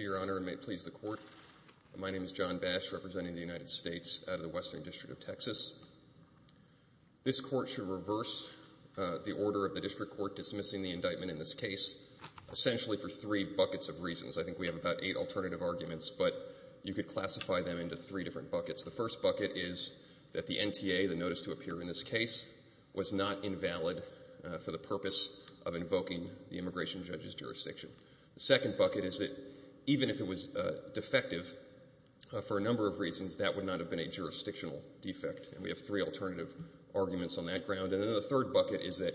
My name is John Bash, representing the United States out of the Western District of Texas. This Court should reverse the order of the District Court dismissing the indictment in this case, essentially for three buckets of reasons. I think we have about eight alternative arguments, but you could classify them into three different buckets. The first bucket is that the NTA, the notice to appear in this case, was not invalid for the purpose of invoking the immigration judge's jurisdiction. The second bucket is that even if it was defective, for a number of reasons, that would not have been a jurisdictional defect. And we have three alternative arguments on that ground. And then the third bucket is that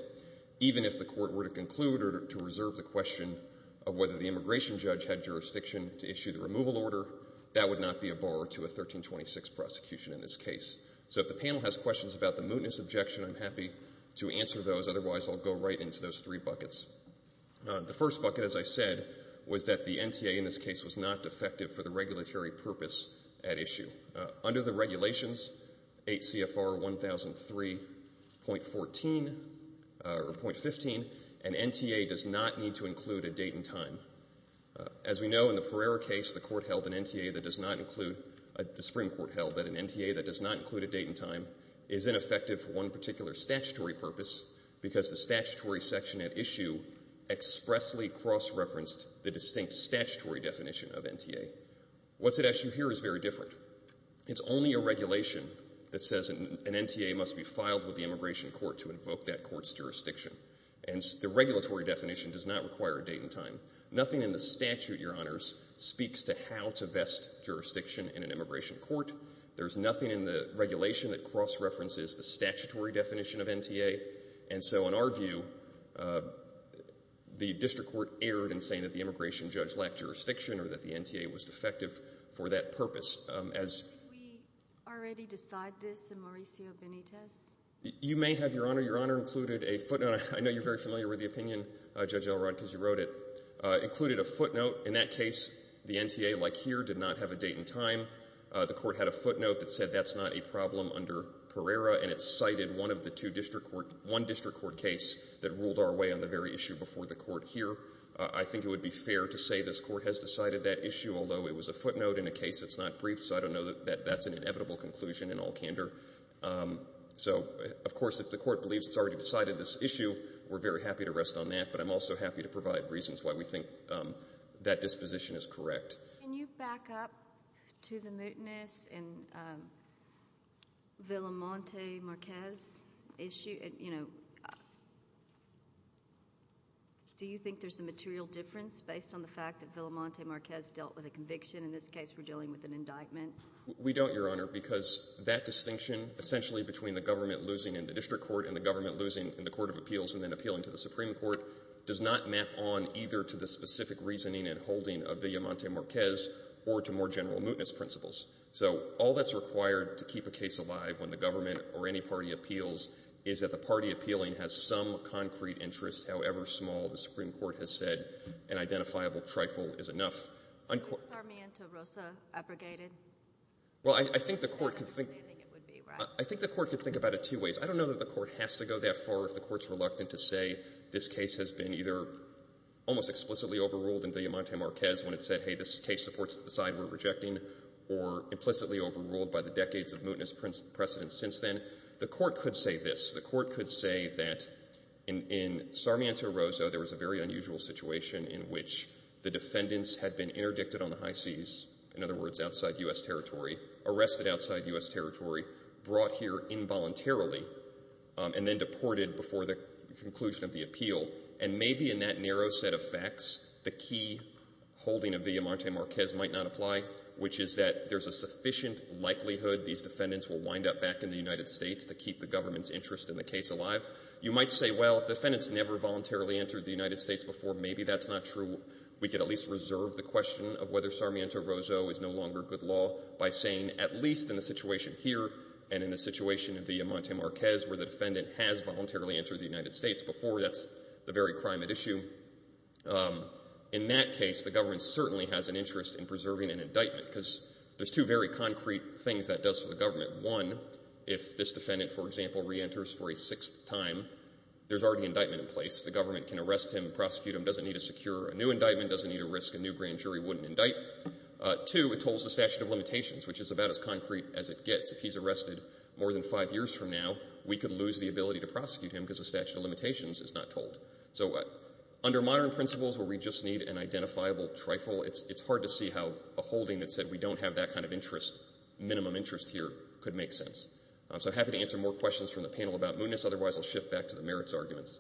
even if the Court were to conclude or to reserve the question of whether the immigration judge had jurisdiction to issue the removal order, that would not be a bar to a 1326 prosecution in this case. So if the panel has questions about the mootness objection, I'm happy to answer those. Otherwise, I'll go right into those three buckets. The first bucket, as I said, was that the NTA in this case was not defective for the regulatory purpose at issue. Under the regulations, 8 CFR 1003.14 or .15, an NTA does not need to include a date and time. As we know, in the Pereira case, the Court held an NTA that does not include, the Supreme Court held that an NTA that does not include a date and time is ineffective for one particular statutory purpose because the statutory section at issue expressly cross-referenced the distinct statutory definition of NTA. What's at issue here is very different. It's only a regulation that says an NTA must be filed with the immigration court to invoke that court's jurisdiction. And the regulatory definition does not require a date and time. Nothing in the statute, Your Honors, speaks to how to vest jurisdiction in an immigration court. There's nothing in the regulation that cross-references the statutory definition of NTA. And so in our view, the district court erred in saying that the immigration judge lacked jurisdiction or that the NTA was defective for that purpose. Did we already decide this in Mauricio Benitez? You may have, Your Honor. Your Honor included a footnote. I know you're very familiar with the opinion, Judge Elrod, because you wrote it. Included a footnote. In that case, the NTA, like here, did not have a date and time. The Court had a footnote that said that's not a problem under Pereira, and it cited one district court case that ruled our way on the very issue before the court here. I think it would be fair to say this Court has decided that issue, although it was a footnote in a case that's not brief, so I don't know that that's an inevitable conclusion in all candor. So, of course, if the Court believes it's already decided this issue, we're very happy to rest on that, but I'm also happy to provide reasons why we think that disposition is correct. Can you back up to the mootness in Villamonte-Marquez issue? Do you think there's a material difference based on the fact that Villamonte-Marquez dealt with a conviction? In this case, we're dealing with an indictment. We don't, Your Honor, because that distinction, essentially between the government losing in the district court and the government losing in the court of appeals and then appealing to the Supreme Court, does not map on either to the specific reasoning and holding of Villamonte-Marquez or to more general mootness principles. So all that's required to keep a case alive when the government or any party appeals is that the party appealing has some concrete interest, however small the Supreme Court has said an identifiable trifle is enough. So is Sarmiento-Rosa abrogated? Well, I think the Court could think about it two ways. I don't know that the Court has to go that far if the Court's reluctant to say this case has been either almost explicitly overruled in Villamonte-Marquez when it said, hey, this case supports the side we're rejecting or implicitly overruled by the decades of mootness precedent since then. The Court could say this. The Court could say that in Sarmiento-Rosa, there was a very unusual situation in which the defendants had been interdicted on the high seas, in other words, outside U.S. territory, arrested outside U.S. territory, brought here involuntarily, and then deported before the conclusion of the appeal. And maybe in that narrow set of facts, the key holding of Villamonte-Marquez might not apply, which is that there's a sufficient likelihood these defendants will wind up back in the United States to keep the government's interest in the case alive. You might say, well, if defendants never voluntarily entered the United States before, maybe that's not true. We could at least reserve the question of whether Sarmiento-Rosa is no longer good by saying at least in the situation here and in the situation in Villamonte-Marquez where the defendant has voluntarily entered the United States before, that's the very crime at issue. In that case, the government certainly has an interest in preserving an indictment because there's two very concrete things that does for the government. One, if this defendant, for example, reenters for a sixth time, there's already an indictment in place. The government can arrest him, prosecute him, doesn't need to secure a new indictment, doesn't need to risk a new grand jury, wouldn't indict. Two, it tolls the statute of limitations, which is about as concrete as it gets. If he's arrested more than five years from now, we could lose the ability to prosecute him because the statute of limitations is not told. So under modern principles where we just need an identifiable trifle, it's hard to see how a holding that said we don't have that kind of interest, minimum interest here, could make sense. So I'm happy to answer more questions from the panel about mootness. Otherwise, I'll shift back to the merits arguments.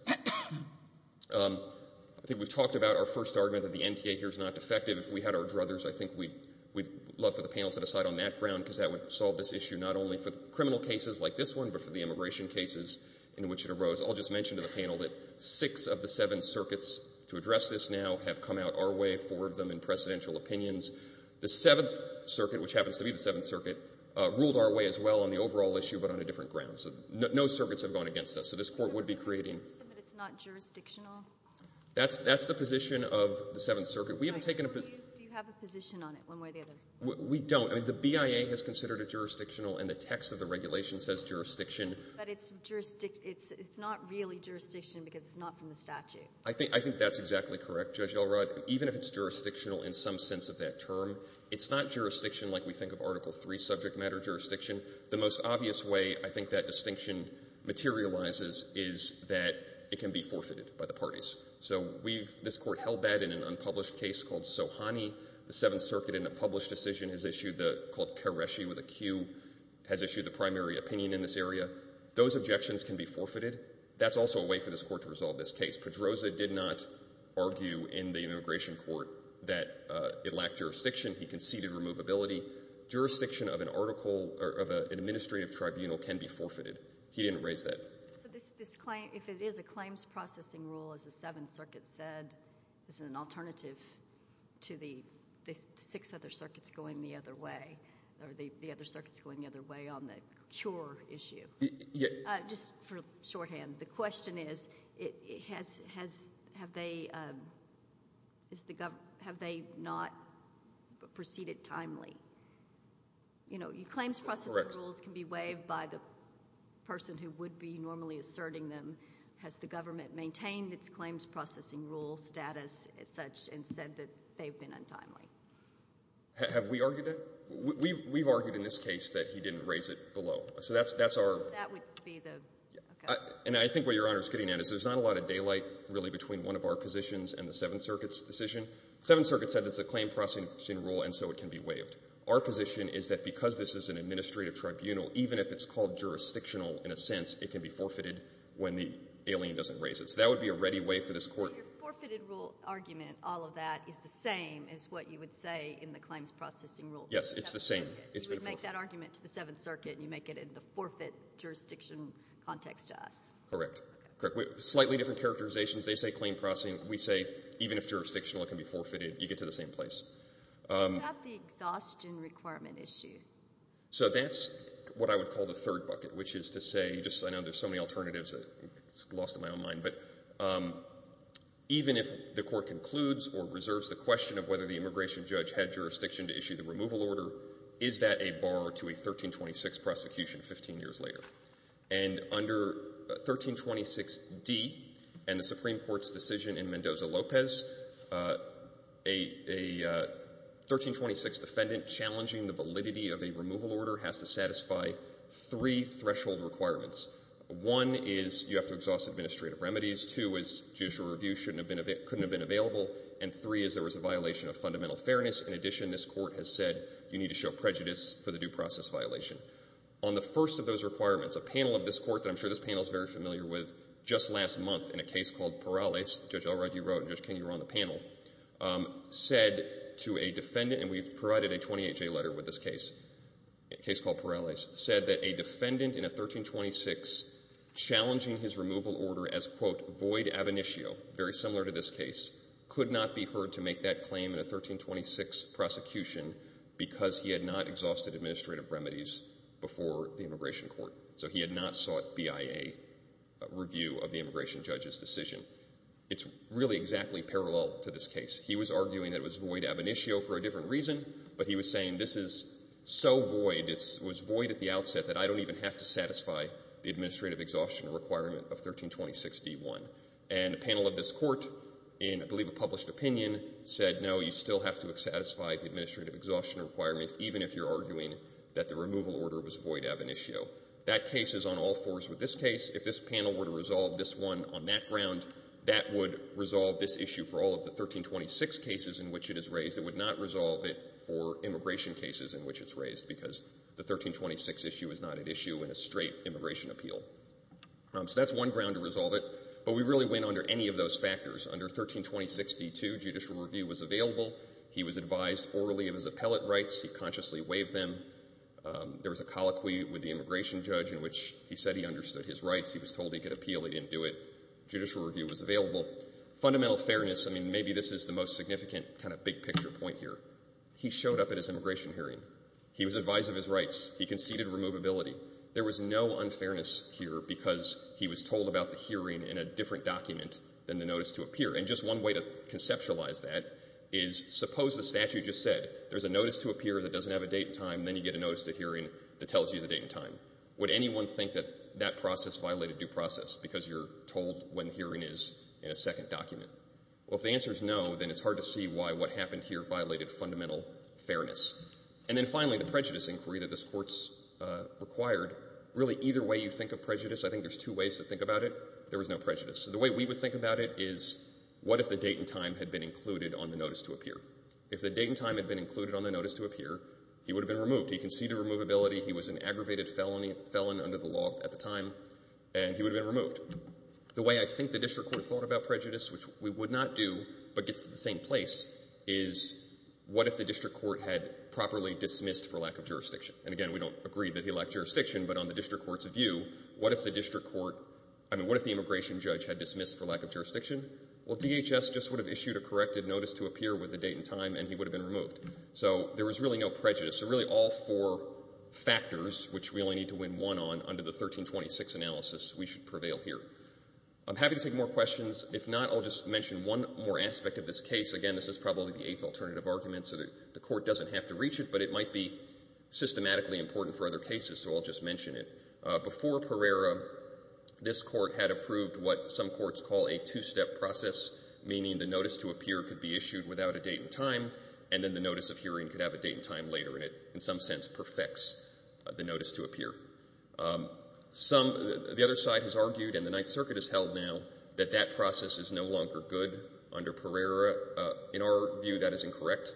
I think we've talked about our first argument that the NTA here is not defective. We had our druthers. I think we'd love for the panel to decide on that ground, because that would solve this issue not only for criminal cases like this one, but for the immigration cases in which it arose. I'll just mention to the panel that six of the seven circuits to address this now have come out our way, four of them in precedential opinions. The Seventh Circuit, which happens to be the Seventh Circuit, ruled our way as well on the overall issue, but on a different ground. So no circuits have gone against us. So this Court would be creating — Is it just that it's not jurisdictional? That's the position of the Seventh Circuit. We haven't taken a — Do you have a position on it, one way or the other? We don't. I mean, the BIA has considered it jurisdictional, and the text of the regulation says jurisdiction. But it's not really jurisdiction because it's not from the statute. I think that's exactly correct, Judge Elrod. Even if it's jurisdictional in some sense of that term, it's not jurisdiction like we think of Article III subject matter jurisdiction. The most obvious way I think that distinction materializes is that it can be forfeited by the parties. So we've — this Court held that in an unpublished case called Sohani. The Seventh Circuit, in a published decision, has issued the — called Kereshi with a Q, has issued the primary opinion in this area. Those objections can be forfeited. That's also a way for this Court to resolve this case. Pedroza did not argue in the immigration court that it lacked jurisdiction. He conceded removability. Jurisdiction of an article or of an administrative tribunal can be forfeited. He didn't raise that. So this — if it is a claims processing rule, as the Seventh Circuit said, this is an alternative to the six other circuits going the other way or the other circuits going the other way on the cure issue. Just for shorthand, the question is, have they not proceeded timely? You know, claims processing rules can be waived by the person who would be normally asserting them. Has the government maintained its claims processing rule status as such and said that they've been untimely? Have we argued that? We've argued in this case that he didn't raise it below. So that's our — That would be the — okay. And I think what Your Honor is getting at is there's not a lot of daylight, really, between one of our positions and the Seventh Circuit's decision. The Seventh Circuit said it's a claim processing rule, and so it can be waived. Our position is that because this is an administrative tribunal, even if it's called jurisdictional in a sense, it can be forfeited when the alien doesn't raise it. So that would be a ready way for this court — So your forfeited rule argument, all of that, is the same as what you would say in the claims processing rule? Yes, it's the same. You would make that argument to the Seventh Circuit, and you make it in the forfeit jurisdiction context to us. Correct. Correct. Slightly different characterizations. They say claim processing. We say even if jurisdictional, it can be forfeited. You get to the same place. What about the exhaustion requirement issue? So that's what I would call the third bucket, which is to say, I know there's so many alternatives, it's lost in my own mind, but even if the court concludes or reserves the question of whether the immigration judge had jurisdiction to issue the removal order, is that a bar to a 1326 prosecution 15 years later? And under 1326d and the Supreme Court's decision in Mendoza-Lopez, a 1326 defendant challenging the validity of a removal order has to satisfy three threshold requirements. One is you have to exhaust administrative remedies. Two is judicial review couldn't have been available. And three is there was a violation of fundamental fairness. In addition, this Court has said you need to show prejudice for the due process violation. On the first of those requirements, a panel of this Court that I'm sure this panel is very familiar with, just last month in a case called Perales, Judge Elrod, you were on the panel, said to a defendant, and we've provided a 28-J letter with this case, a case called Perales, said that a defendant in a 1326 challenging his removal order as, quote, void ab initio, very similar to this case, could not be heard to make that claim in a 1326 prosecution because he had not exhausted administrative remedies before the immigration court. So he had not sought BIA review of the immigration judge's decision. It's really exactly parallel to this case. He was arguing that it was void ab initio for a different reason, but he was saying this is so void, it was void at the outset, that I don't even have to satisfy the administrative exhaustion requirement of 1326d-1. And a panel of this Court in, I believe, a published opinion said, no, you still have to satisfy the administrative exhaustion requirement even if you're arguing that the removal order was void ab initio. That case is on all fours with this case. If this panel were to resolve this one on that ground, that would resolve this issue for all of the 1326 cases in which it is raised. It would not resolve it for immigration cases in which it's raised because the 1326 issue is not at issue in a straight immigration appeal. So that's one ground to resolve it. But we really went under any of those factors. Under 1326d-2, judicial review was available. He was advised orally of his appellate rights. He consciously waived them. There was a colloquy with the immigration judge in which he said he understood his rights. He was told he could appeal. He didn't do it. Judicial review was available. Fundamental fairness, I mean, maybe this is the most significant kind of big-picture point here. He showed up at his immigration hearing. He was advised of his rights. He conceded removability. There was no unfairness here because he was told about the hearing in a different document than the notice to appear. And just one way to conceptualize that is, suppose the statute just said there's a notice to appear that doesn't have a date and time, and then you get a notice to hearing that tells you the date and time. Would anyone think that that process violated due process because you're told when the hearing is in a second document? Well, if the answer is no, then it's hard to see why what happened here violated fundamental fairness. And then finally, the prejudice inquiry that this Court's required, really either way you think of prejudice, I think there's two ways to think about it. There was no prejudice. The way we would think about it is, what if the date and time had been included on the notice to appear? If the date and time had been included on the notice to appear, he would have been removed. He conceded removability. He was an aggravated felon under the law at the time, and he would have been removed. The way I think the district court thought about prejudice, which we would not do but gets to the same place, is what if the district court had properly dismissed for lack of jurisdiction? And again, we don't agree that he lacked jurisdiction, but on the district court's view, what if the district court, I mean what if the immigration judge had dismissed for lack of jurisdiction? Well, DHS just would have issued a corrected notice to appear with the date and time, and he would have been removed. So there was really no prejudice. So really all four factors, which we only need to win one on, under the 1326 analysis, we should prevail here. I'm happy to take more questions. If not, I'll just mention one more aspect of this case. Again, this is probably the eighth alternative argument, so the court doesn't have to reach it, but it might be systematically important for other cases, so I'll just mention it. Before Pereira, this court had approved what some courts call a two-step process, meaning the notice to appear could be issued without a date and time, and then the notice of hearing could have a date and time later, and it, in some sense, perfects the notice to appear. Some, the other side has argued, and the Ninth Circuit has held now, that that process is no longer good under Pereira. In our view, that is incorrect.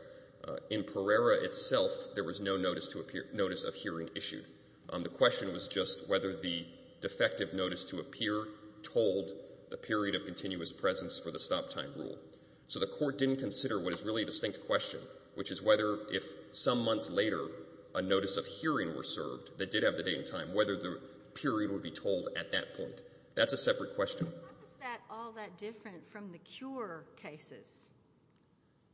In Pereira itself, there was no notice to appear, notice of hearing issued. The question was just whether the defective notice to appear told the period of continuous presence for the stop-time rule. So the court didn't consider what is really a distinct question, which is whether if some months later a notice of hearing were served that did have the date and time, whether the period would be told at that point. That's a separate question. How is that all that different from the cure cases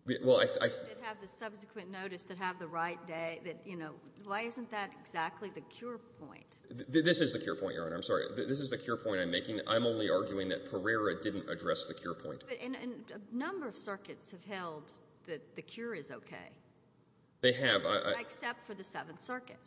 that have the subsequent notice, that have the right date? This is the cure point, Your Honor. I'm sorry. This is the cure point I'm making. I'm only arguing that Pereira didn't address the cure point. But a number of circuits have held that the cure is okay. They have. Except for the Seventh Circuit.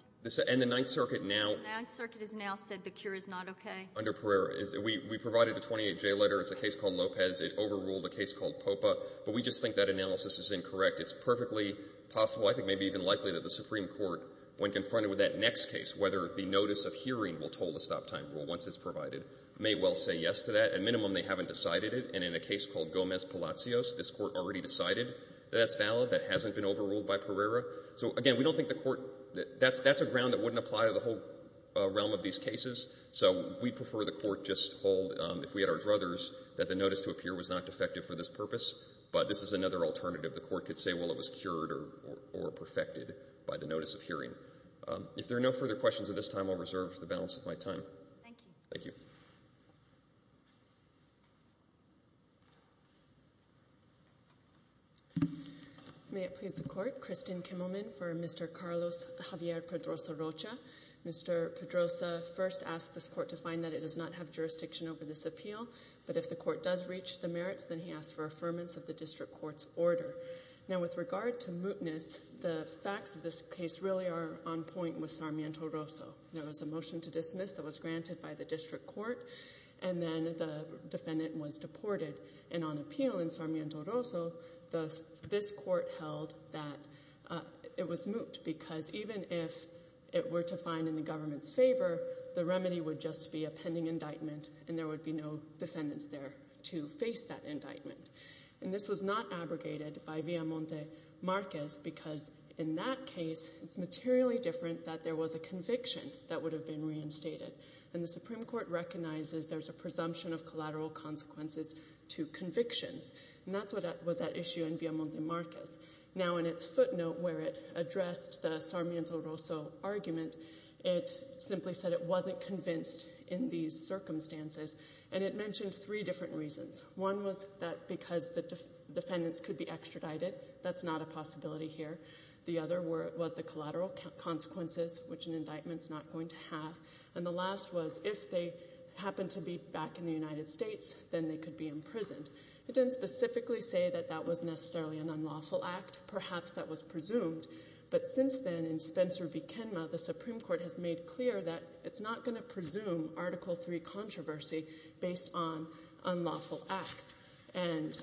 And the Ninth Circuit now — The Ninth Circuit has now said the cure is not okay. Under Pereira. We provided the 28J letter. It's a case called Lopez. It overruled a case called Popa. But we just think that analysis is incorrect. It's perfectly possible, I think maybe even likely, that the Supreme Court, when confronted with that next case, whether the notice of hearing will toll the stop-time rule once it's provided, may well say yes to that. At minimum, they haven't decided it. And in a case called Gomez-Palacios, this Court already decided that that's valid, that hasn't been overruled by Pereira. So, again, we don't think the Court — that's a ground that wouldn't apply to the whole realm of these cases. So we'd prefer the Court just hold, if we had our druthers, that the notice to appear was not defective for this purpose. But this is another alternative. The Court could say, well, it was cured or perfected by the notice of hearing. If there are no further questions at this time, I'll reserve the balance of my time. Thank you. Thank you. May it please the Court. Kristin Kimmelman for Mr. Carlos Javier Pedrosa Rocha. Mr. Pedrosa first asked this Court to find that it does not have jurisdiction over this appeal, but if the Court does reach the merits, then he asks for affirmance of the district court's order. Now, with regard to mootness, the facts of this case really are on point with Sarmiento-Roso. There was a motion to dismiss that was granted by the district court, and then the defendant was deported. And on appeal in Sarmiento-Roso, this Court held that it was moot, because even if it were to find in the government's favor, the remedy would just be a pending indictment, and there would be no defendants there to face that indictment. And this was not abrogated by Villamonte-Marquez, because in that case it's materially different that there was a conviction that would have been reinstated. And the Supreme Court recognizes there's a presumption of collateral consequences to convictions, and that's what was at issue in Villamonte-Marquez. Now, in its footnote where it addressed the Sarmiento-Roso argument, it simply said it wasn't convinced in these circumstances, and it mentioned three different reasons. One was that because the defendants could be extradited. That's not a possibility here. The other was the collateral consequences, which an indictment's not going to have. And the last was if they happened to be back in the United States, then they could be imprisoned. It didn't specifically say that that was necessarily an unlawful act. Perhaps that was presumed. But since then, in Spencer v. Kenma, the Supreme Court has made clear that it's not going to presume Article III controversy based on unlawful acts. And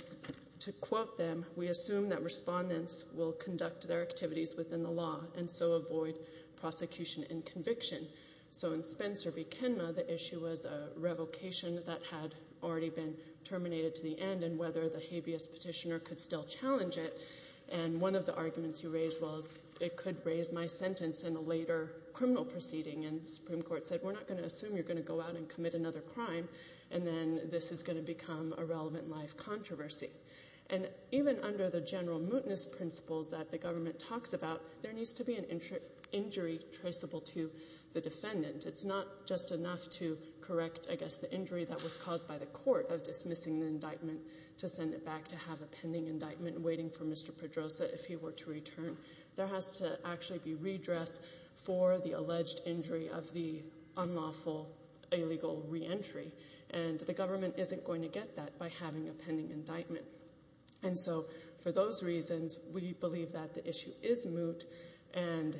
to quote them, we assume that respondents will conduct their activities within the law and so avoid prosecution and conviction. So in Spencer v. Kenma, the issue was a revocation that had already been terminated to the end and whether the habeas petitioner could still challenge it. And one of the arguments he raised was it could raise my sentence in a later criminal proceeding, and the Supreme Court said we're not going to assume you're going to go out and commit another crime, and then this is going to become a relevant life controversy. And even under the general mootness principles that the government talks about, there needs to be an injury traceable to the defendant. It's not just enough to correct, I guess, the injury that was caused by the court of dismissing the indictment to send it back to have a pending indictment waiting for Mr. Pedrosa if he were to return. There has to actually be redress for the alleged injury of the unlawful illegal reentry. And the government isn't going to get that by having a pending indictment. And so for those reasons, we believe that the issue is moot. And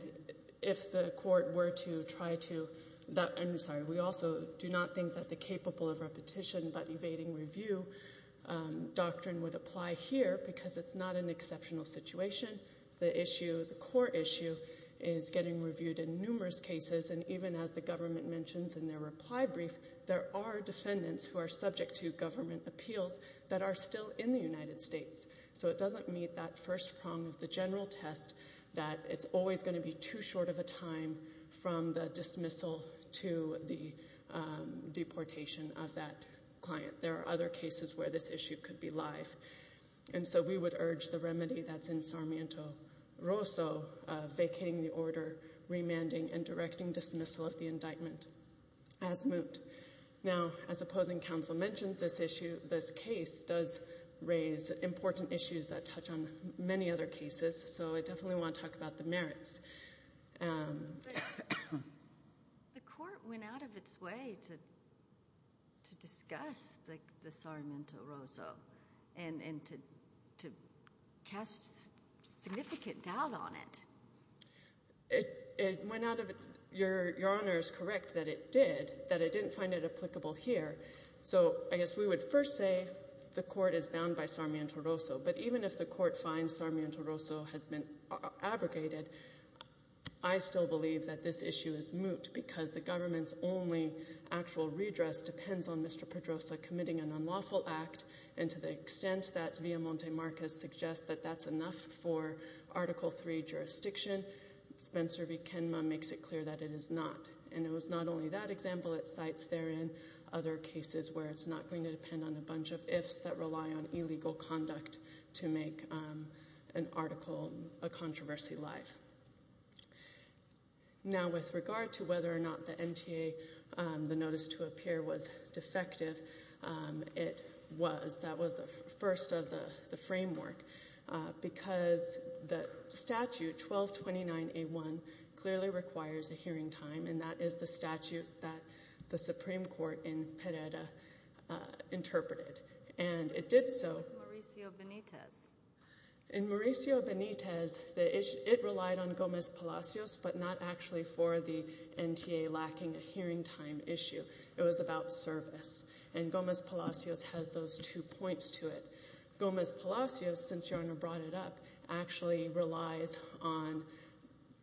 if the court were to try to that, I'm sorry, we also do not think that the capable of repetition but evading review doctrine would apply here because it's not an exceptional situation. The issue, the core issue, is getting reviewed in numerous cases, and even as the government mentions in their reply brief, there are defendants who are subject to government appeals that are still in the United States. So it doesn't meet that first prong of the general test that it's always going to be too short of a time from the dismissal to the deportation of that client. There are other cases where this issue could be live. And so we would urge the remedy that's in Sarmiento Rosso vacating the order, remanding, and directing dismissal of the indictment as moot. Now, as opposing counsel mentions, this case does raise important issues that touch on many other cases, so I definitely want to talk about the merits. The court went out of its way to discuss the Sarmiento Rosso and to cast significant doubt on it. It went out of its – your Honor is correct that it did, that it didn't find it applicable here. So I guess we would first say the court is bound by Sarmiento Rosso. But even if the court finds Sarmiento Rosso has been abrogated, I still believe that this issue is moot because the government's only actual redress depends on Mr. Pedrosa committing an unlawful act. And to the extent that Villamonte-Marquez suggests that that's enough for Article III jurisdiction, Spencer v. Kenma makes it clear that it is not. And it was not only that example. It cites therein other cases where it's not going to depend on a bunch of ifs that rely on illegal conduct to make an article, a controversy, live. Now, with regard to whether or not the NTA, the notice to appear, was defective, it was. That was the first of the framework because the statute, 1229A1, clearly requires a hearing time, and that is the statute that the Supreme Court in Pereira interpreted. And it did so. What about Mauricio Benitez? In Mauricio Benitez, it relied on Gomez Palacios, but not actually for the NTA lacking a hearing time issue. It was about service. And Gomez Palacios has those two points to it. Gomez Palacios, since Your Honor brought it up, actually relies on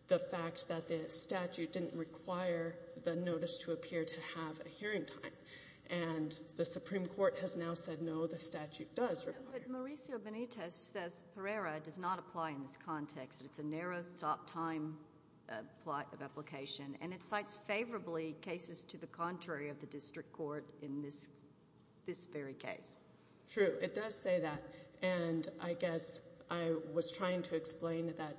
the fact that the statute didn't require the notice to appear to have a hearing time. And the Supreme Court has now said, no, the statute does require it. But Mauricio Benitez says Pereira does not apply in this context. It's a narrow time of application. And it cites favorably cases to the contrary of the district court in this very case. True. It does say that. And I guess I was trying to explain that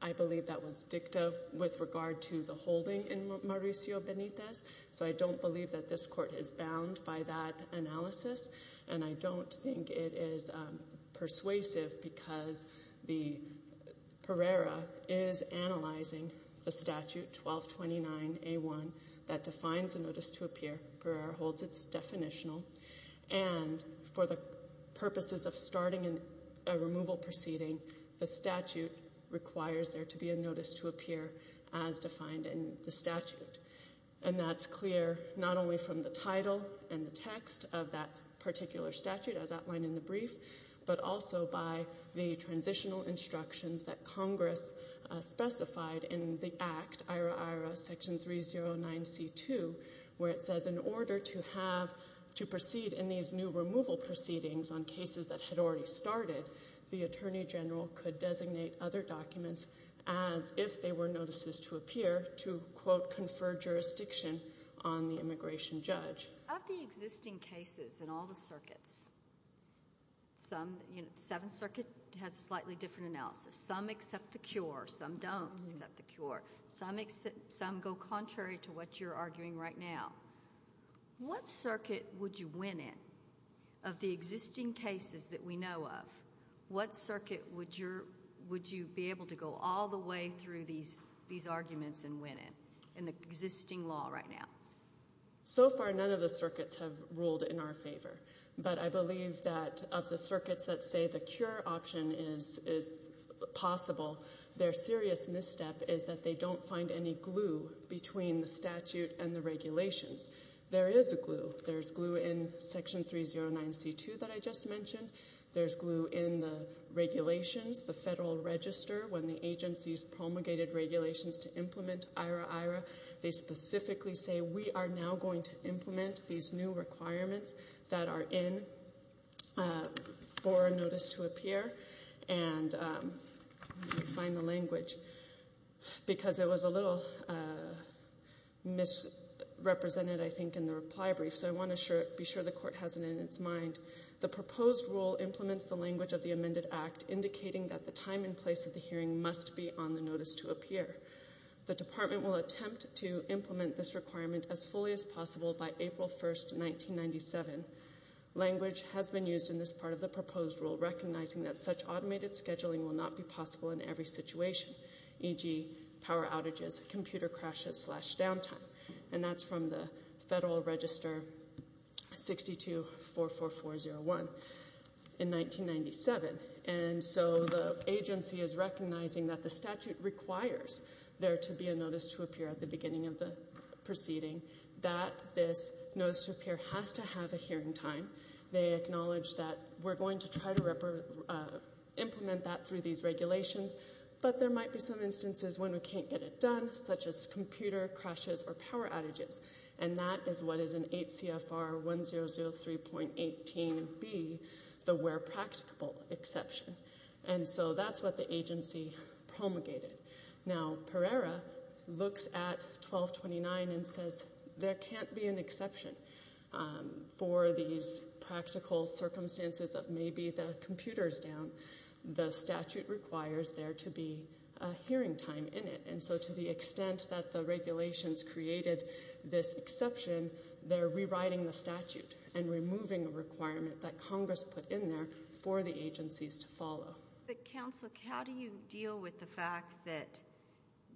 I believe that was dicta with regard to the holding in Mauricio Benitez. So I don't believe that this court is bound by that analysis. And I don't think it is persuasive because Pereira is analyzing the statute, 1229A1, that defines a notice to appear. Pereira holds its definitional. And for the purposes of starting a removal proceeding, the statute requires there to be a notice to appear as defined in the statute. And that's clear not only from the title and the text of that particular statute, as outlined in the brief, but also by the transitional instructions that Congress specified in the Act, IRA-IRA Section 309C2, where it says in order to proceed in these new removal proceedings on cases that had already started, the attorney general could designate other documents as if they were notices to appear to, quote, confer jurisdiction on the immigration judge. Of the existing cases in all the circuits, the Seventh Circuit has a slightly different analysis. Some accept the cure. Some don't accept the cure. Some go contrary to what you're arguing right now. What circuit would you win in? Of the existing cases that we know of, what circuit would you be able to go all the way through these arguments and win in in the existing law right now? So far, none of the circuits have ruled in our favor. But I believe that of the circuits that say the cure option is possible, their serious misstep is that they don't find any glue between the statute and the regulations. There is a glue. There's glue in Section 309C2 that I just mentioned. There's glue in the regulations, the Federal Register, when the agencies promulgated regulations to implement IRA-IRA. They specifically say we are now going to implement these new requirements that are in for a notice to appear. And let me find the language because it was a little misrepresented, I think, in the reply brief. So I want to be sure the Court has it in its mind. The proposed rule implements the language of the amended act, indicating that the time and place of the hearing must be on the notice to appear. The Department will attempt to implement this requirement as fully as possible by April 1, 1997. Language has been used in this part of the proposed rule, recognizing that such automated scheduling will not be possible in every situation, e.g., power outages, computer crashes, slash downtime. And that's from the Federal Register 6244401 in 1997. And so the agency is recognizing that the statute requires there to be a notice to appear at the beginning of the proceeding, that this notice to appear has to have a hearing time. They acknowledge that we're going to try to implement that through these regulations, but there might be some instances when we can't get it done, such as computer crashes or power outages. And that is what is in 8 CFR 1003.18b, the where practicable exception. And so that's what the agency promulgated. Now, Pereira looks at 1229 and says there can't be an exception for these practical circumstances of maybe the computer's down. The statute requires there to be a hearing time in it. And so to the extent that the regulations created this exception, they're rewriting the statute and removing a requirement that Congress put in there for the agencies to follow. But, Counsel, how do you deal with the fact that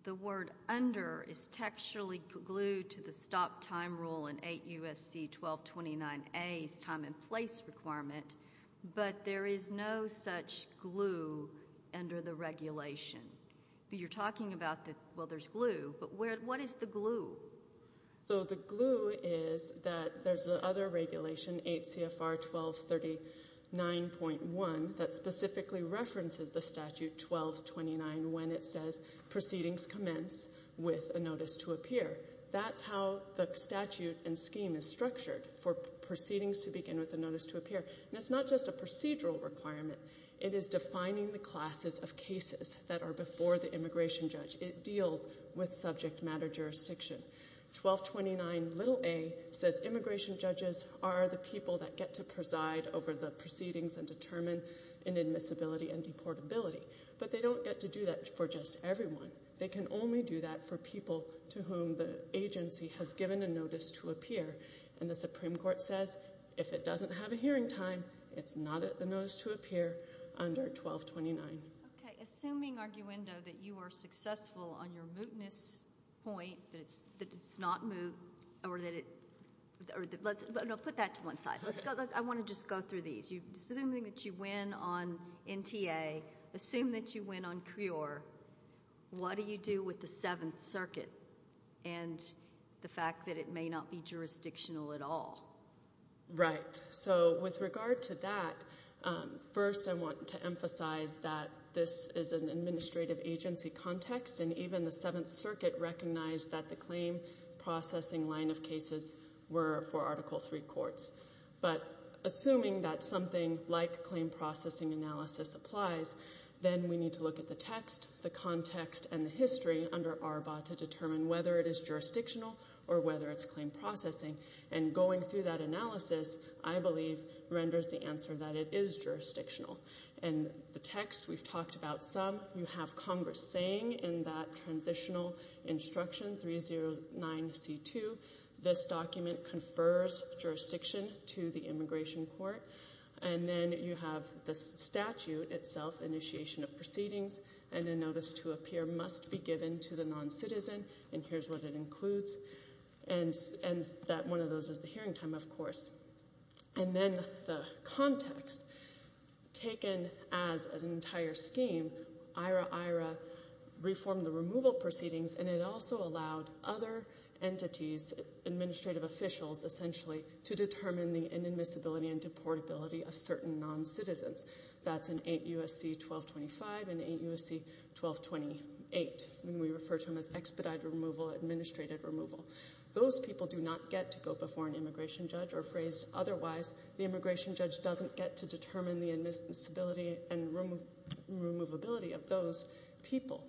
the word under is textually glued to the stop time rule in 8 U.S.C. 1229a's time and place requirement, but there is no such glue under the regulation? You're talking about, well, there's glue, but what is the glue? So the glue is that there's the other regulation, 8 CFR 1239.1, that specifically references the statute 1229 when it says proceedings commence with a notice to appear. That's how the statute and scheme is structured for proceedings to begin with a notice to appear. And it's not just a procedural requirement. It is defining the classes of cases that are before the immigration judge. It deals with subject matter jurisdiction. 1229a says immigration judges are the people that get to preside over the proceedings and determine an admissibility and deportability. But they don't get to do that for just everyone. They can only do that for people to whom the agency has given a notice to appear. And the Supreme Court says if it doesn't have a hearing time, it's not a notice to appear under 1229. Okay. Assuming, Arguendo, that you are successful on your mootness point, that it's not moot, or that it No, put that to one side. I want to just go through these. Assuming that you win on NTA, assume that you win on CREOR, what do you do with the Seventh Circuit and the fact that it may not be jurisdictional at all? Right. So with regard to that, first I want to emphasize that this is an administrative agency context, and even the Seventh Circuit recognized that the claim processing line of cases were for Article III courts. But assuming that something like claim processing analysis applies, then we need to look at the text, the context, and the history under ARBA to determine whether it is jurisdictional or whether it's claim processing. And going through that analysis, I believe, renders the answer that it is jurisdictional. And the text, we've talked about some. You have Congress saying in that transitional instruction, 309C2, this document confers jurisdiction to the immigration court. And then you have the statute itself, initiation of proceedings, and a notice to appear must be given to the noncitizen, and here's what it includes. And one of those is the hearing time, of course. And then the context. Taken as an entire scheme, IRA-IRA reformed the removal proceedings, and it also allowed other entities, administrative officials, essentially, to determine the inadmissibility and deportability of certain noncitizens. That's in 8 U.S.C. 1225 and 8 U.S.C. 1228. And we refer to them as expedited removal, administrative removal. Those people do not get to go before an immigration judge or phrased otherwise. The immigration judge doesn't get to determine the admissibility and removability of those people.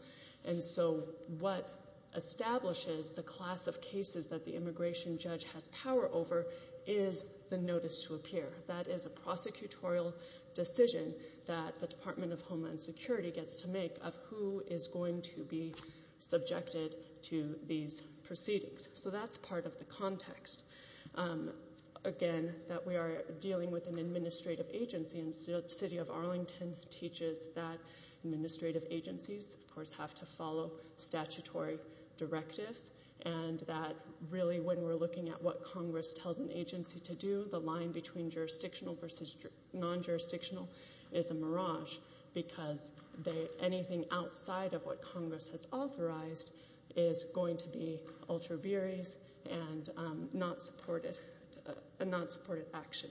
And so what establishes the class of cases that the immigration judge has power over is the notice to appear. That is a prosecutorial decision that the Department of Homeland Security gets to make of who is going to be subjected to these proceedings. So that's part of the context. Again, that we are dealing with an administrative agency, and the city of Arlington teaches that administrative agencies, of course, have to follow statutory directives, and that really when we're looking at what Congress tells an agency to do, the line between jurisdictional versus non-jurisdictional is a mirage because anything outside of what Congress has authorized is going to be ultra viris and not supported action.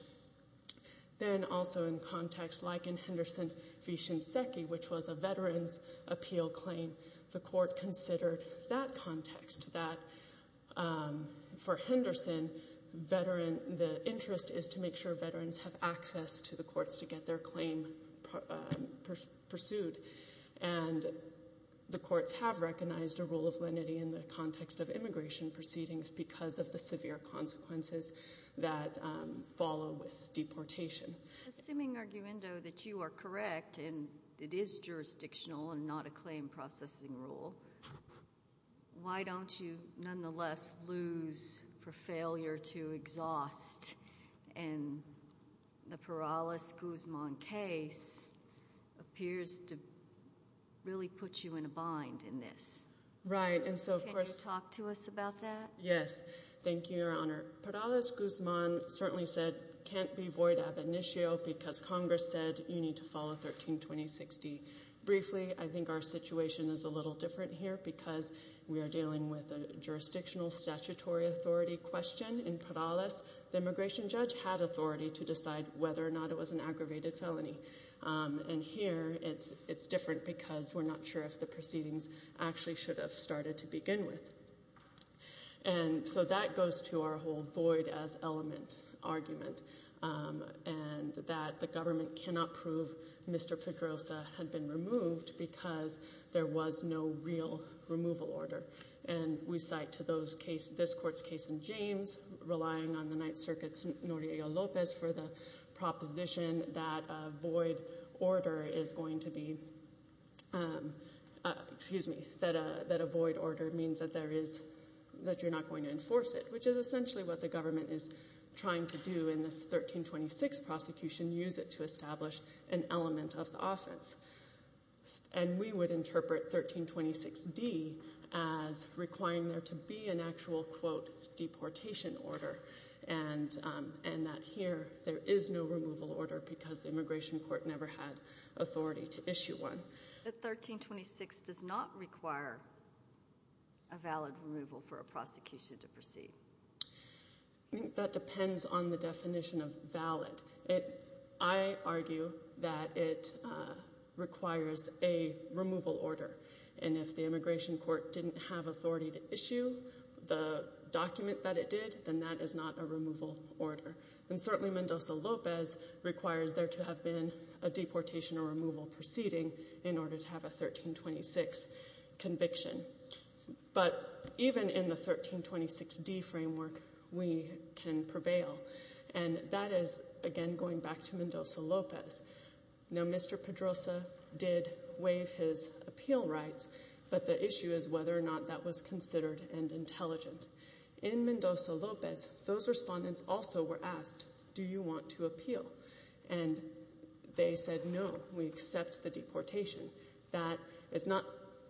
Then also in context, like in Henderson v. Shinseki, which was a veterans' appeal claim, the court considered that context, that for Henderson, the interest is to make sure veterans have access to the courts to get their claim pursued. And the courts have recognized a rule of lenity in the context of immigration proceedings because of the severe consequences that follow with deportation. Assuming, Arguendo, that you are correct and it is jurisdictional and not a claim processing rule, why don't you nonetheless lose for failure to exhaust? And the Perales-Guzman case appears to really put you in a bind in this. Right. Can you talk to us about that? Yes. Thank you, Your Honor. Perales-Guzman certainly said can't be void ab initio because Congress said you need to follow 132060. Briefly, I think our situation is a little different here because we are dealing with a jurisdictional statutory authority question in Perales. The immigration judge had authority to decide whether or not it was an aggravated felony. And here it's different because we're not sure if the proceedings actually should have started to begin with. And so that goes to our whole void as element argument and that the government cannot prove Mr. Pedrosa had been removed because there was no real removal order. And we cite to this court's case in James, relying on the Ninth Circuit's Noriello Lopez for the proposition that a void order means that you're not going to enforce it, which is essentially what the government is trying to do in this 1326 prosecution, use it to establish an element of the offense. And we would interpret 1326D as requiring there to be an actual, quote, deportation order and that here there is no removal order because the immigration court never had authority to issue one. But 1326 does not require a valid removal for a prosecution to proceed. I think that depends on the definition of valid. I argue that it requires a removal order. And if the immigration court didn't have authority to issue the document that it did, then that is not a removal order. And certainly Mendoza-Lopez requires there to have been a deportation or removal proceeding in order to have a 1326 conviction. But even in the 1326D framework, we can prevail. And that is, again, going back to Mendoza-Lopez. Now, Mr. Pedrosa did waive his appeal rights, but the issue is whether or not that was considered and intelligent. In Mendoza-Lopez, those respondents also were asked, do you want to appeal? And they said no. We accept the deportation. That is not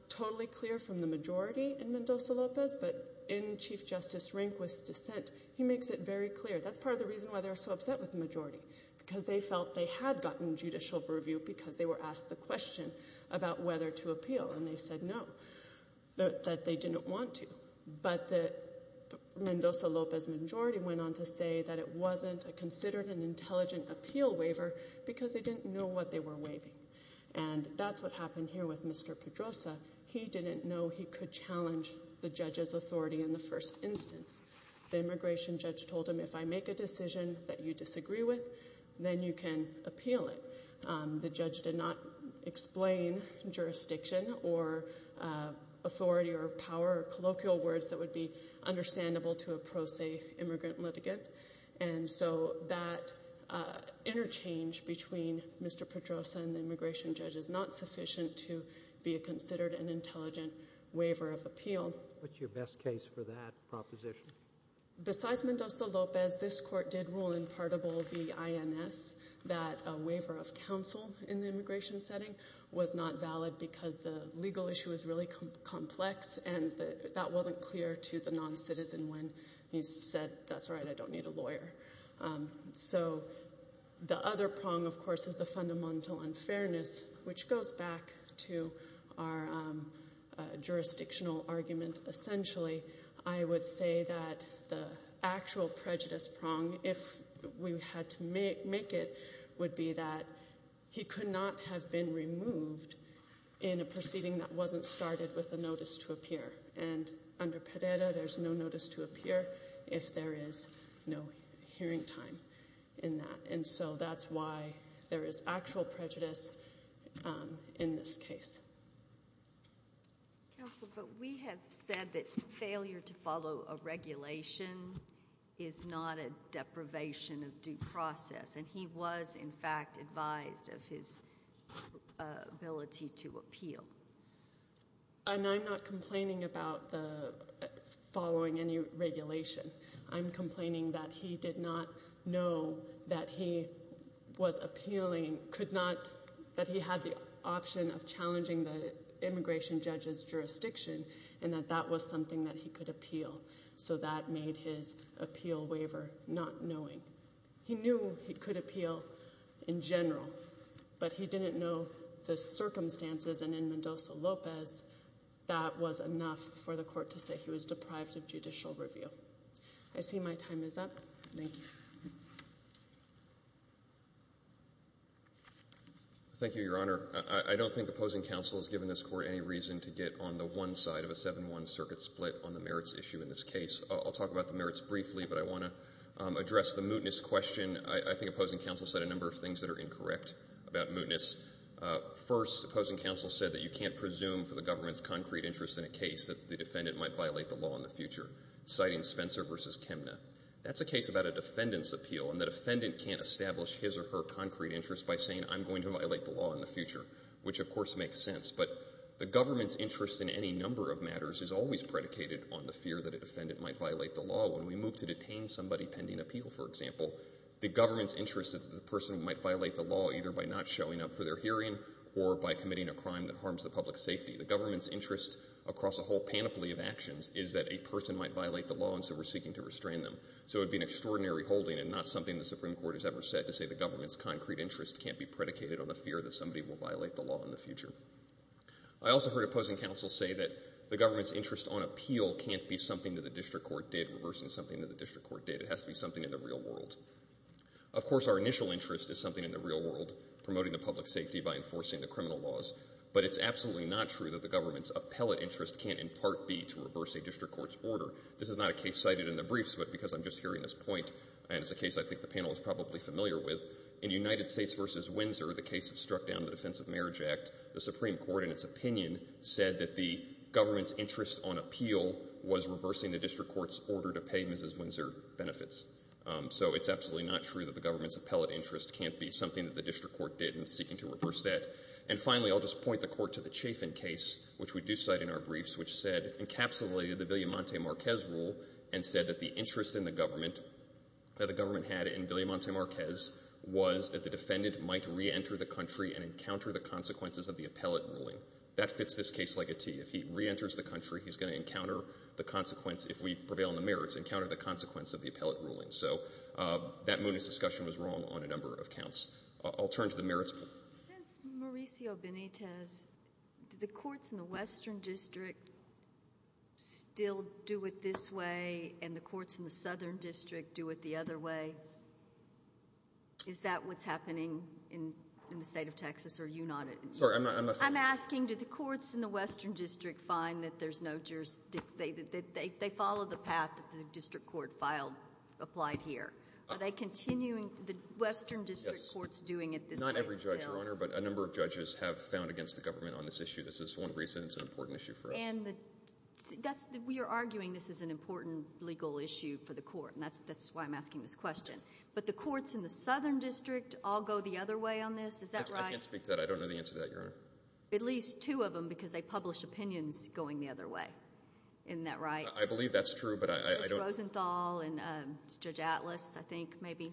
totally clear from the majority in Mendoza-Lopez, but in Chief Justice Rehnquist's dissent, he makes it very clear. That's part of the reason why they're so upset with the majority, because they felt they had gotten judicial purview because they were asked the question about whether to appeal. And they said no, that they didn't want to. But the Mendoza-Lopez majority went on to say that it wasn't considered an intelligent appeal waiver because they didn't know what they were waiving. And that's what happened here with Mr. Pedrosa. He didn't know he could challenge the judge's authority in the first instance. The immigration judge told him, if I make a decision that you disagree with, then you can appeal it. The judge did not explain jurisdiction or authority or power or colloquial words that would be understandable to a pro se immigrant litigant. And so that interchange between Mr. Pedrosa and the immigration judge is not sufficient to be considered an intelligent waiver of appeal. What's your best case for that proposition? Besides Mendoza-Lopez, this court did rule in Partable v. INS that a waiver of counsel in the immigration setting was not valid because the legal issue is really complex and that wasn't clear to the non-citizen when he said, that's right, I don't need a lawyer. So the other prong, of course, is the fundamental unfairness, which goes back to our jurisdictional argument. Essentially, I would say that the actual prejudice prong, if we had to make it, would be that he could not have been removed in a proceeding that wasn't started with a notice to appear. And under Pedrera, there's no notice to appear if there is no hearing time in that. And so that's why there is actual prejudice in this case. Counsel, but we have said that failure to follow a regulation is not a deprivation of due process, and he was, in fact, advised of his ability to appeal. And I'm not complaining about following any regulation. I'm complaining that he did not know that he was appealing, that he had the option of challenging the immigration judge's jurisdiction, and that that was something that he could appeal. So that made his appeal waiver not knowing. He knew he could appeal in general, but he didn't know the circumstances. And in Mendoza-Lopez, that was enough for the court to say he was deprived of judicial review. I see my time is up. Thank you. Thank you, Your Honor. I don't think opposing counsel has given this Court any reason to get on the one side of a 7-1 circuit split on the merits issue in this case. I'll talk about the merits briefly, but I want to address the mootness question. I think opposing counsel said a number of things that are incorrect about mootness. First, opposing counsel said that you can't presume for the government's concrete interest in a case that the defendant might violate the law in the future, citing Spencer v. Chemna. That's a case about a defendant's appeal, and the defendant can't establish his or her concrete interest by saying, I'm going to violate the law in the future, which, of course, makes sense. But the government's interest in any number of matters is always predicated on the fear that a defendant might violate the law. When we move to detain somebody pending appeal, for example, the government's interest is that the person might violate the law either by not showing up for their hearing or by committing a crime that harms the public's safety. The government's interest across a whole panoply of actions is that a person might violate the law, and so we're seeking to restrain them. So it would be an extraordinary holding and not something the Supreme Court has ever said to say the government's concrete interest can't be predicated on the fear that somebody will violate the law in the future. I also heard opposing counsel say that the government's interest on appeal can't be something that the district court did, reversing something that the district court did. It has to be something in the real world. Of course, our initial interest is something in the real world, promoting the public's safety by enforcing the criminal laws, but it's absolutely not true that the government's appellate interest can't in part be to reverse a district court's order. This is not a case cited in the briefs, but because I'm just hearing this point and it's a case I think the panel is probably familiar with, in United States v. Windsor, the case that struck down the Defense of Marriage Act, the Supreme Court in its opinion said that the government's interest on appeal was reversing the district court's order to pay Mrs. Windsor benefits. So it's absolutely not true that the government's appellate interest can't be something that the district court did in seeking to reverse that. And finally, I'll just point the Court to the Chafin case, which we do cite in our briefs, which said encapsulated the Villamonte-Marquez rule and said that the interest in the government, that the government had in Villamonte-Marquez, was that the defendant might reenter the country and encounter the consequences of the appellate ruling. That fits this case like a T. If he reenters the country, he's going to encounter the consequence, if we prevail in the merits, encounter the consequence of the appellate ruling. So that mootness discussion was wrong on a number of counts. I'll turn to the merits. Since Mauricio Benitez, do the courts in the Western District still do it this way and the courts in the Southern District do it the other way? Is that what's happening in the state of Texas, or are you not? I'm asking, do the courts in the Western District find that there's no jurisdiction? They follow the path that the district court filed, applied here. Not every judge, Your Honor, but a number of judges have found against the government on this issue. This is one reason it's an important issue for us. We are arguing this is an important legal issue for the court, and that's why I'm asking this question. But the courts in the Southern District all go the other way on this. Is that right? I can't speak to that. I don't know the answer to that, Your Honor. At least two of them, because they publish opinions going the other way. Isn't that right? I believe that's true, but I don't know. I think it's Rosenthal and Judge Atlas, I think, maybe.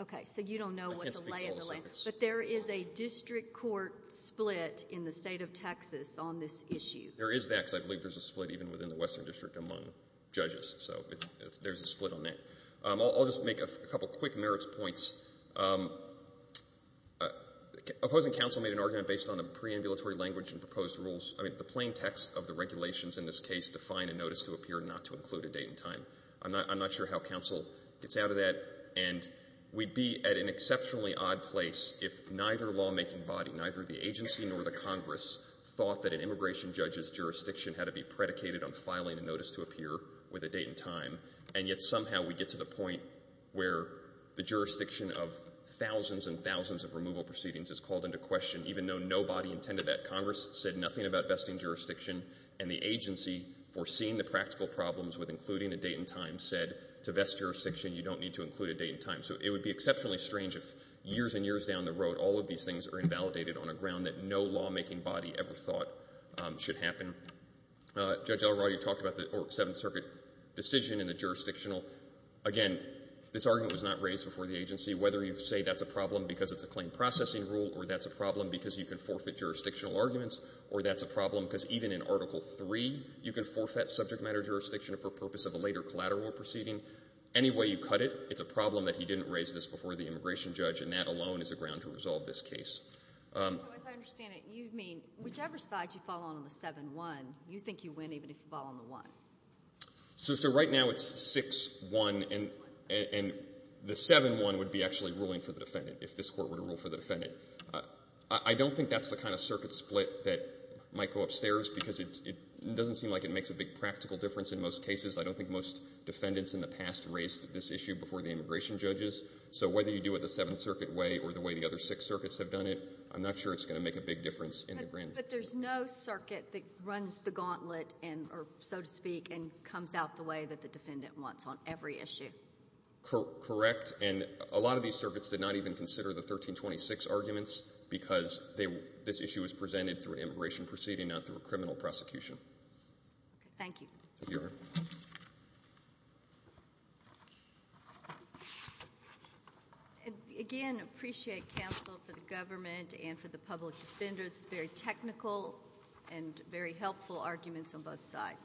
Okay, so you don't know what the lay of the land is. I can't speak to all of this. But there is a district court split in the state of Texas on this issue. There is that, because I believe there's a split even within the Western District among judges. So there's a split on that. I'll just make a couple of quick merits points. Opposing counsel made an argument based on the preambulatory language and proposed rules. I mean, the plain text of the regulations in this case define a notice to appear not to include a date and time. I'm not sure how counsel gets out of that. And we'd be at an exceptionally odd place if neither lawmaking body, neither the agency nor the Congress thought that an immigration judge's jurisdiction had to be predicated on filing a notice to appear with a date and time, and yet somehow we get to the point where the jurisdiction of thousands and thousands of removal proceedings is called into question, even though nobody intended that. Congress said nothing about vesting jurisdiction, and the agency, foreseeing the practical problems with including a date and time, said to vest jurisdiction, you don't need to include a date and time. So it would be exceptionally strange if years and years down the road all of these things are invalidated on a ground that no lawmaking body ever thought should happen. Judge Elroy, you talked about the Seventh Circuit decision and the jurisdictional. Again, this argument was not raised before the agency. Whether you say that's a problem because it's a claim processing rule or that's a problem because you can forfeit jurisdictional arguments or that's a problem because even in Article III, you can forfeit subject matter jurisdiction for purpose of a later collateral proceeding. Any way you cut it, it's a problem that he didn't raise this before the immigration judge, and that alone is a ground to resolve this case. So as I understand it, you mean whichever side you fall on in the 7-1, you think you win even if you fall on the 1? So right now it's 6-1, and the 7-1 would be actually ruling for the defendant if this Court were to rule for the defendant. I don't think that's the kind of circuit split that might go upstairs because it doesn't seem like it makes a big practical difference in most cases. I don't think most defendants in the past raised this issue before the immigration judges. So whether you do it the Seventh Circuit way or the way the other six circuits have done it, I'm not sure it's going to make a big difference in the grand jury. But there's no circuit that runs the gauntlet, so to speak, and comes out the way that the defendant wants on every issue. Correct. And a lot of these circuits did not even consider the 1326 arguments because this issue was presented through an immigration proceeding, not through a criminal prosecution. Thank you. Thank you, Your Honor. Again, I appreciate counsel for the government and for the public defenders. Very technical and very helpful arguments on both sides.